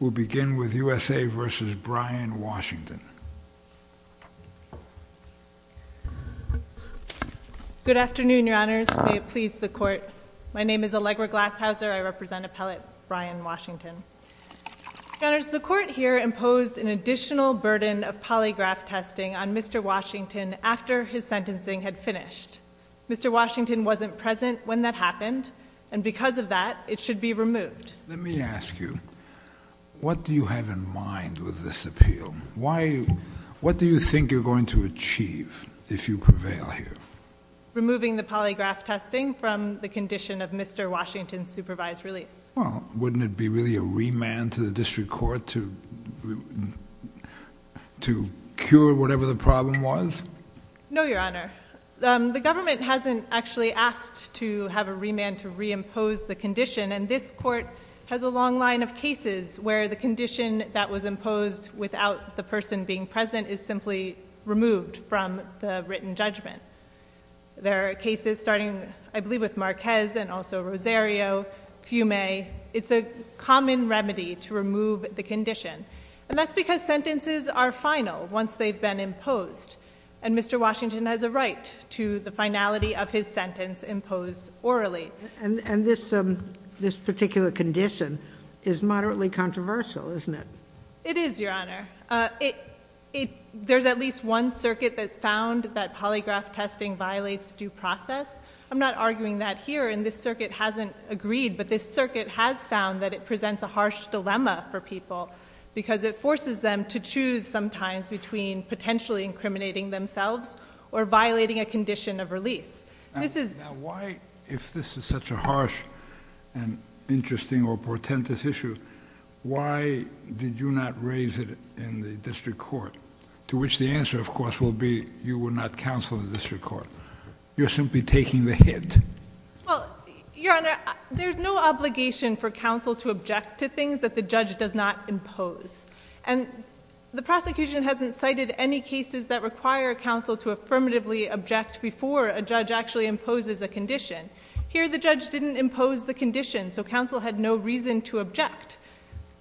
We'll begin with USA v. Brian Washington. Good afternoon, Your Honors. May it please the Court. My name is Allegra Glashauser. I represent Appellate Brian Washington. Your Honors, the Court here imposed an additional burden of polygraph testing on Mr. Washington after his sentencing had finished. Mr. Washington wasn't present when that happened, and because of that, it should be removed. Let me ask you, what do you have in mind with this appeal? What do you think you're going to achieve if you prevail here? Removing the polygraph testing from the condition of Mr. Washington's supervised release. Well, wouldn't it be really a remand to the District Court to cure whatever the problem was? No, Your Honor. The government hasn't actually asked to have a remand to reimpose the condition, and this Court has a long line of cases where the condition that was imposed without the person being present is simply removed from the written judgment. There are cases starting, I believe, with Marquez and also Rosario, Fiume. It's a common remedy to remove the condition, and that's because sentences are final once they've been imposed, and Mr. Washington has a right to the finality of his sentence imposed orally. And this particular condition is moderately controversial, isn't it? It is, Your Honor. There's at least one circuit that found that polygraph testing violates due process. I'm not arguing that here, and this circuit hasn't agreed, but this circuit has found that it presents a harsh dilemma for people because it forces them to choose sometimes between potentially incriminating themselves or violating a condition of release. Now, why, if this is such a harsh and interesting or portentous issue, why did you not raise it in the District Court, to which the answer, of course, will be you will not counsel the District Court? You're simply taking the hint. Well, Your Honor, there's no obligation for counsel to object to things that the judge does not impose, and the prosecution hasn't cited any cases that require counsel to affirmatively object before a judge actually imposes a condition. Here, the judge didn't impose the condition, so counsel had no reason to object.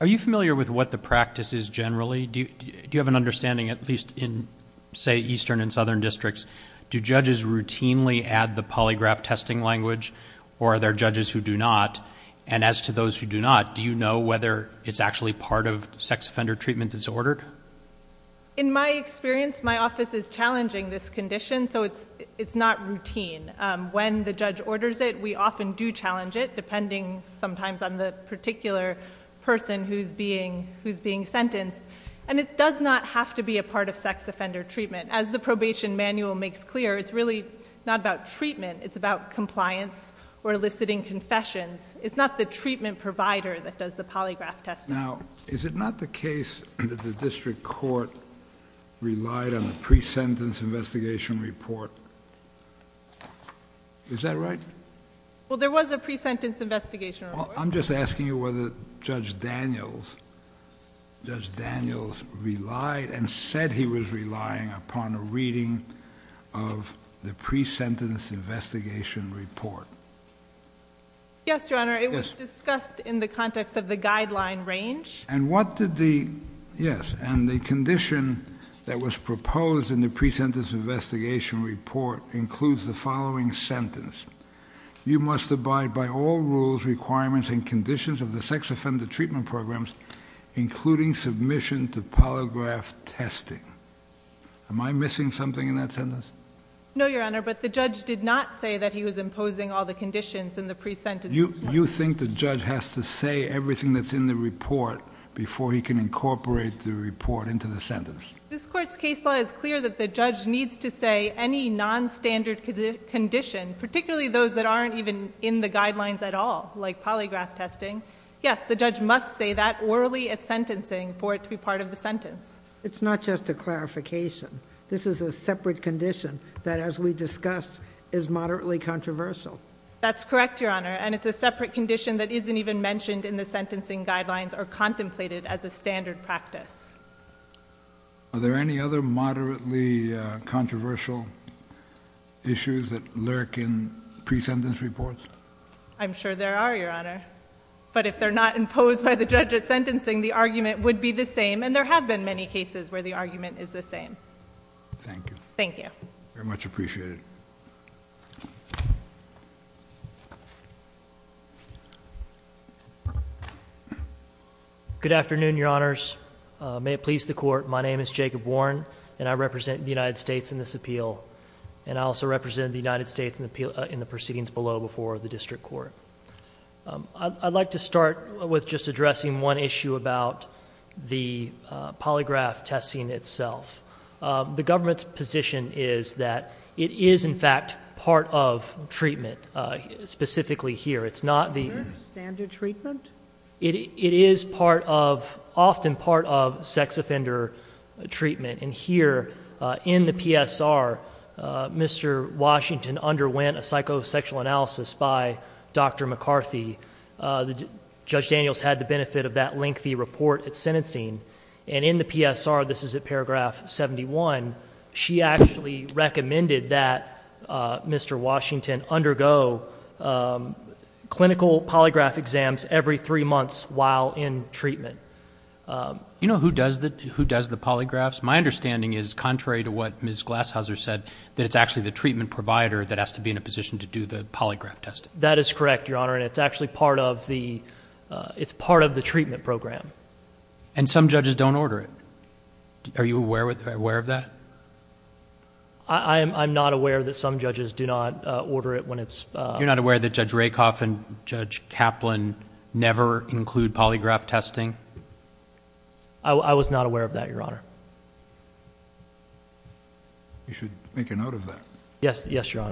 Are you familiar with what the practice is generally? Do you have an understanding, at least in, say, eastern and southern districts? Do judges routinely add the polygraph testing language, or are there judges who do not? And as to those who do not, do you know whether it's actually part of sex offender treatment that's ordered? In my experience, my office is challenging this condition, so it's not routine. When the judge orders it, we often do challenge it, depending sometimes on the particular person who's being sentenced, and it does not have to be a part of sex offender treatment. As the probation manual makes clear, it's really not about treatment. It's about compliance or eliciting confessions. It's not the treatment provider that does the polygraph testing. Now, is it not the case that the District Court relied on a pre-sentence investigation report? Is that right? Well, there was a pre-sentence investigation report. I'm just asking you whether Judge Daniels relied and said he was relying upon a reading of the pre-sentence investigation report. Yes, Your Honor. It was discussed in the context of the guideline range. Yes, and the condition that was proposed in the pre-sentence investigation report includes the following sentence. You must abide by all rules, requirements, and conditions of the sex offender treatment programs, including submission to polygraph testing. Am I missing something in that sentence? No, Your Honor, but the judge did not say that he was imposing all the conditions in the pre-sentence report. You think the judge has to say everything that's in the report before he can incorporate the report into the sentence? This court's case law is clear that the judge needs to say any non-standard condition, particularly those that aren't even in the guidelines at all, like polygraph testing. Yes, the judge must say that orally at sentencing for it to be part of the sentence. It's not just a clarification. This is a separate condition that, as we discussed, is moderately controversial. That's correct, Your Honor, and it's a separate condition that isn't even mentioned in the sentencing guidelines or contemplated as a standard practice. Are there any other moderately controversial issues that lurk in pre-sentence reports? I'm sure there are, Your Honor, but if they're not imposed by the judge at sentencing, the argument would be the same, and there have been many cases where the argument is the same. Thank you. Thank you. Very much appreciated. Good afternoon, Your Honors. May it please the court, my name is Jacob Warren, and I represent the United States in this appeal. And I also represent the United States in the proceedings below before the district court. I'd like to start with just addressing one issue about the polygraph testing itself. The government's position is that it is, in fact, part of treatment, specifically here. It's not the- Standard treatment? It is often part of sex offender treatment. And here in the PSR, Mr. Washington underwent a psychosexual analysis by Dr. McCarthy. Judge Daniels had the benefit of that lengthy report at sentencing. And in the PSR, this is at paragraph 71, she actually recommended that Mr. Washington undergo clinical polygraph exams every three months while in treatment. You know who does the polygraphs? My understanding is, contrary to what Ms. Glashauser said, that it's actually the treatment provider that has to be in a position to do the polygraph testing. That is correct, Your Honor, and it's actually part of the treatment program. And some judges don't order it. Are you aware of that? I'm not aware that some judges do not order it when it's- You're not aware that Judge Rakoff and Judge Kaplan never include polygraph testing? I was not aware of that, Your Honor. You should make a note of that. Yes, Your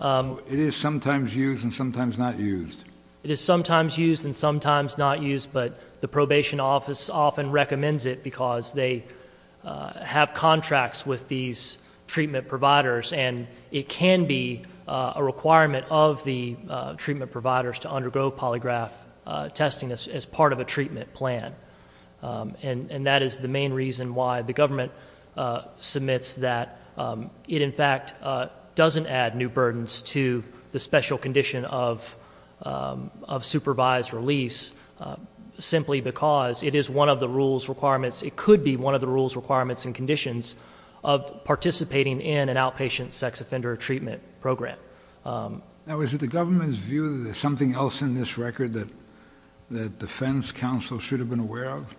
Honor. It is sometimes used and sometimes not used. It is sometimes used and sometimes not used, but the probation office often recommends it because they have contracts with these treatment providers. And it can be a requirement of the treatment providers to undergo polygraph testing as part of a treatment plan. And that is the main reason why the government submits that it, in fact, doesn't add new burdens to the special condition of supervised release, simply because it is one of the rules, requirements- It could be one of the rules, requirements, and conditions of participating in an outpatient sex offender treatment program. Now, is it the government's view that there's something else in this record that the defense counsel should have been aware of?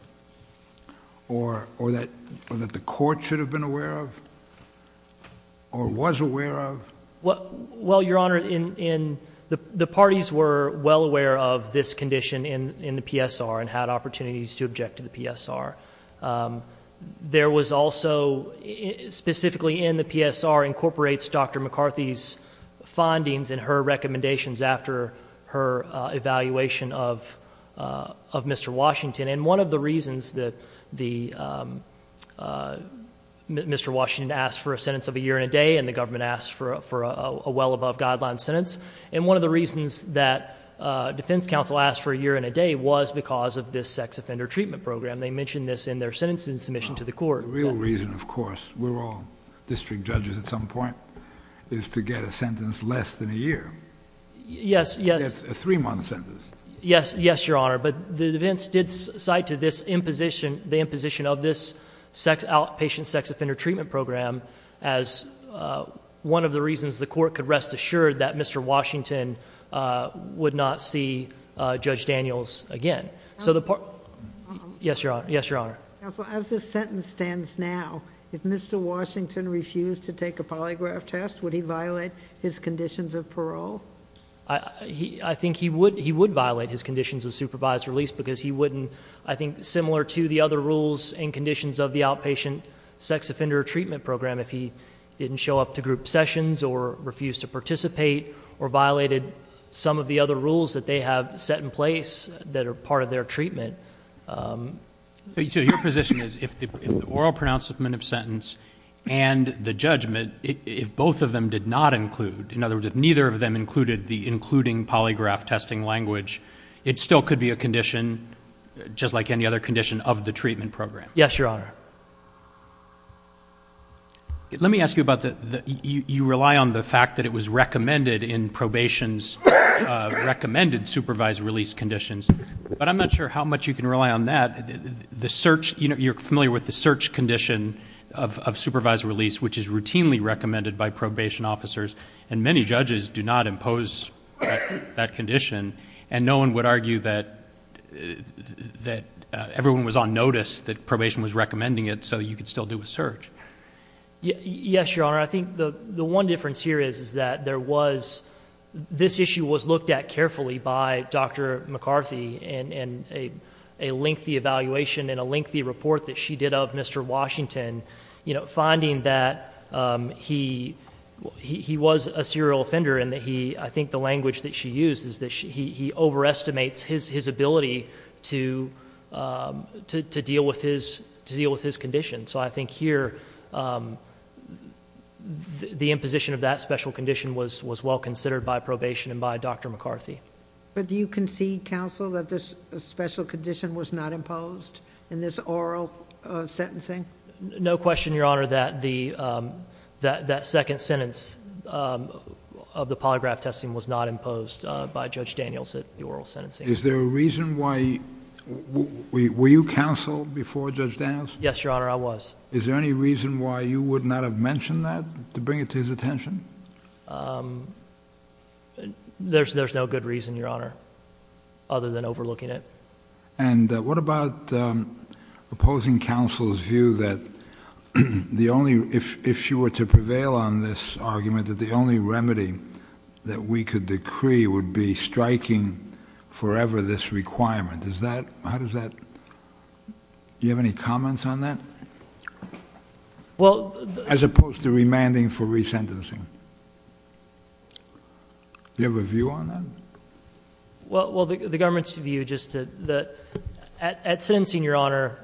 Or that the court should have been aware of? Or was aware of? Well, Your Honor, the parties were well aware of this condition in the PSR and had opportunities to object to the PSR. There was also, specifically in the PSR, incorporates Dr. McCarthy's findings and her recommendations after her evaluation of Mr. Washington. And one of the reasons that Mr. Washington asked for a sentence of a year and a day and the government asked for a well-above-guideline sentence, and one of the reasons that defense counsel asked for a year and a day was because of this sex offender treatment program. They mentioned this in their sentencing submission to the court. The real reason, of course, we're all district judges at some point, is to get a sentence less than a year. Yes, yes. A three-month sentence. Yes, yes, Your Honor, but the defense did cite the imposition of this outpatient sex offender treatment program as one of the reasons the court could rest assured that Mr. Washington would not see Judge Daniels again. Yes, Your Honor. Counsel, as this sentence stands now, if Mr. Washington refused to take a polygraph test, would he violate his conditions of parole? I think he would violate his conditions of supervised release because he wouldn't, I think, similar to the other rules and conditions of the outpatient sex offender treatment program, if he didn't show up to group sessions or refused to participate or violated some of the other rules that they have set in place that are part of their treatment. So your position is if the oral pronouncement of sentence and the judgment, if both of them did not include, in other words, if neither of them included the including polygraph testing language, it still could be a condition just like any other condition of the treatment program. Yes, Your Honor. Let me ask you about the you rely on the fact that it was recommended in probation's recommended supervised release conditions, but I'm not sure how much you can rely on that. The search, you know, you're familiar with the search condition of supervised release, which is routinely recommended by probation officers, and many judges do not impose that condition, and no one would argue that everyone was on notice that probation was recommending it so you could still do a search. Yes, Your Honor. I think the one difference here is that this issue was looked at carefully by Dr. McCarthy in a lengthy evaluation and a lengthy report that she did of Mr. Washington, and, you know, finding that he was a serial offender, and I think the language that she used is that he overestimates his ability to deal with his condition. So I think here the imposition of that special condition was well considered by probation and by Dr. McCarthy. But do you concede, counsel, that this special condition was not imposed in this oral sentencing? No question, Your Honor, that that second sentence of the polygraph testing was not imposed by Judge Daniels at the oral sentencing. Is there a reason why? Were you counsel before Judge Daniels? Yes, Your Honor, I was. Is there any reason why you would not have mentioned that to bring it to his attention? There's no good reason, Your Honor, other than overlooking it. And what about opposing counsel's view that the only, if she were to prevail on this argument, that the only remedy that we could decree would be striking forever this requirement? Does that, how does that, do you have any comments on that? As opposed to remanding for resentencing. Do you have a view on that? Well, the government's view just to, at sentencing, Your Honor,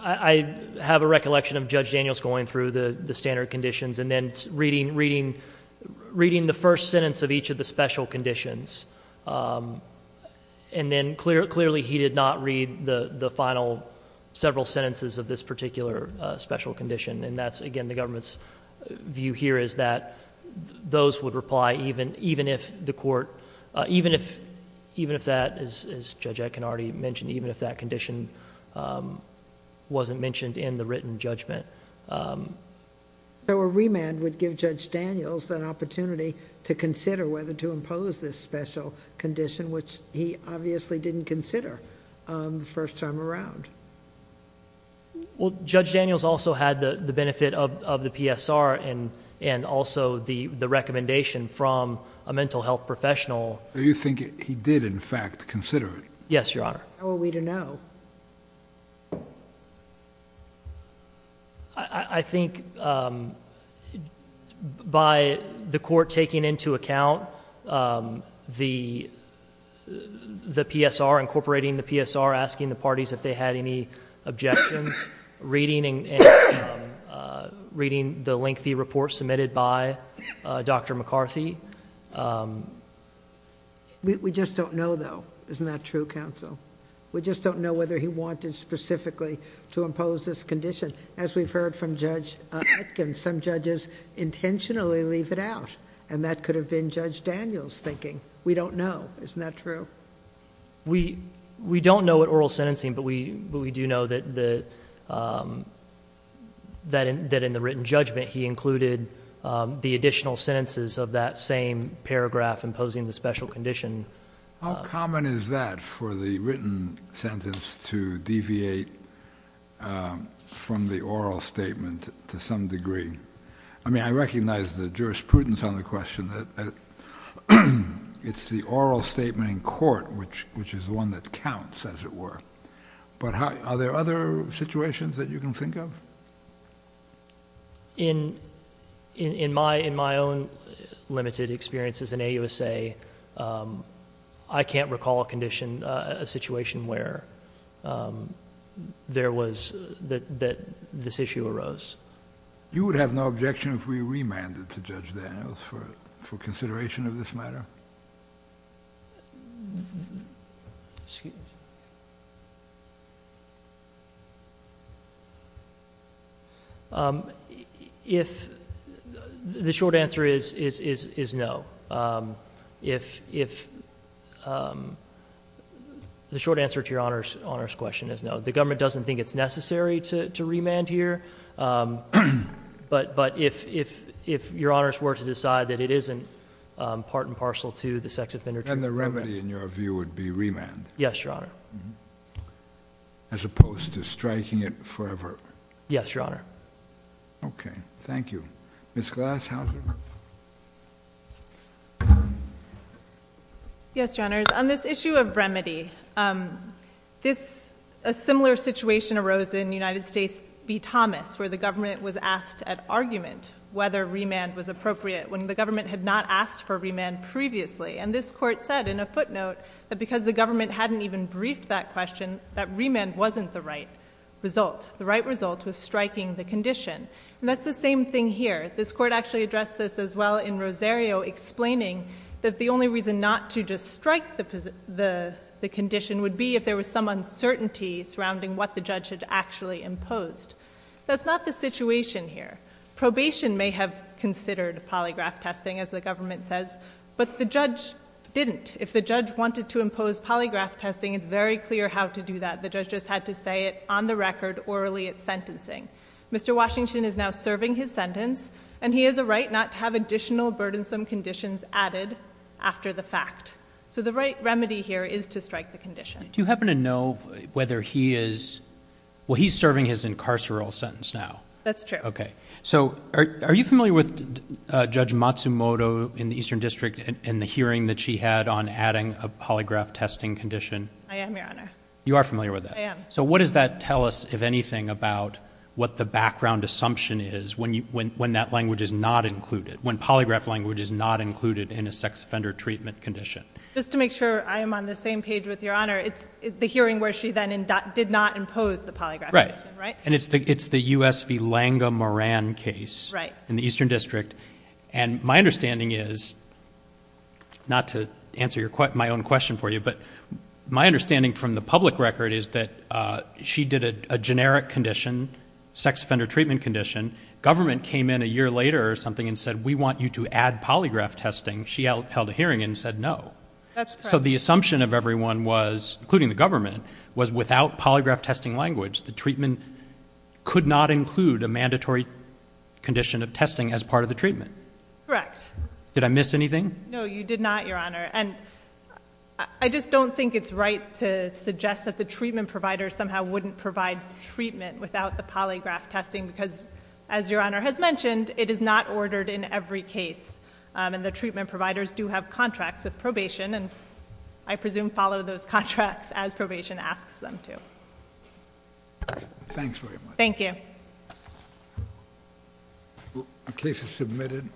I have a recollection of Judge Daniels going through the standard conditions and then reading the first sentence of each of the special conditions. And then clearly he did not read the final several sentences of this particular special condition. And that's, again, the government's view here is that those would reply even if the court, even if that, as Judge Akinnardy mentioned, even if that condition wasn't mentioned in the written judgment. So a remand would give Judge Daniels an opportunity to consider whether to impose this special condition, which he obviously didn't consider the first time around. Well, Judge Daniels also had the benefit of the PSR and also the recommendation from a mental health professional. So you think he did, in fact, consider it? Yes, Your Honor. How are we to know? I think by the court taking into account the PSR, incorporating the PSR, asking the parties if they had any objections, reading the lengthy report submitted by Dr. McCarthy. We just don't know, though. Isn't that true, counsel? We just don't know whether he wanted specifically to impose this condition. As we've heard from Judge Atkins, some judges intentionally leave it out, and that could have been Judge Daniels thinking, we don't know. Isn't that true? We don't know at oral sentencing, but we do know that in the written judgment, he included the additional sentences of that same paragraph imposing the special condition. How common is that for the written sentence to deviate from the oral statement to some degree? I mean, I recognize the jurisprudence on the question. It's the oral statement in court, which is the one that counts, as it were. But are there other situations that you can think of? In my own limited experience as an AUSA, I can't recall a situation where there was that this issue arose. You would have no objection if we remanded to Judge Daniels for consideration of this matter? The short answer is no. The short answer to Your Honor's question is no. The government doesn't think it's necessary to remand here. But if Your Honors were to decide that it isn't part and parcel to the sex offender treatment program. And the remedy, in your view, would be remand? Yes, Your Honor. As opposed to striking it forever? Yes, Your Honor. Okay, thank you. Ms. Glashauser. Yes, Your Honors. On this issue of remedy, a similar situation arose in United States v. Thomas, where the government was asked at argument whether remand was appropriate when the government had not asked for remand previously. And this court said in a footnote that because the government hadn't even briefed that question, that remand wasn't the right result. The right result was striking the condition. And that's the same thing here. This court actually addressed this as well in Rosario, explaining that the only reason not to just strike the condition would be if there was some uncertainty surrounding what the judge had actually imposed. That's not the situation here. Probation may have considered polygraph testing, as the government says. But the judge didn't. If the judge wanted to impose polygraph testing, it's very clear how to do that. The judge just had to say it on the record orally at sentencing. Mr. Washington is now serving his sentence, and he has a right not to have additional burdensome conditions added after the fact. So the right remedy here is to strike the condition. Do you happen to know whether he is serving his incarceration sentence now? That's true. Okay. So are you familiar with Judge Matsumoto in the Eastern District I am, Your Honor. You are familiar with that. I am. So what does that tell us, if anything, about what the background assumption is when that language is not included, when polygraph language is not included in a sex offender treatment condition? Just to make sure I am on the same page with Your Honor, it's the hearing where she then did not impose the polygraph condition, right? Right. And it's the U.S. v. Lange-Moran case in the Eastern District. And my understanding is, not to answer my own question for you, but my understanding from the public record is that she did a generic condition, sex offender treatment condition. Government came in a year later or something and said, we want you to add polygraph testing. She held a hearing and said no. That's correct. So the assumption of everyone was, including the government, was without polygraph testing language, the treatment could not include a mandatory condition of testing as part of the treatment. Correct. Did I miss anything? No, you did not, Your Honor. And I just don't think it's right to suggest that the treatment provider somehow wouldn't provide treatment without the polygraph testing because, as Your Honor has mentioned, it is not ordered in every case. And the treatment providers do have contracts with probation and I presume follow those contracts as probation asks them to. Thanks very much. Thank you. The case is submitted.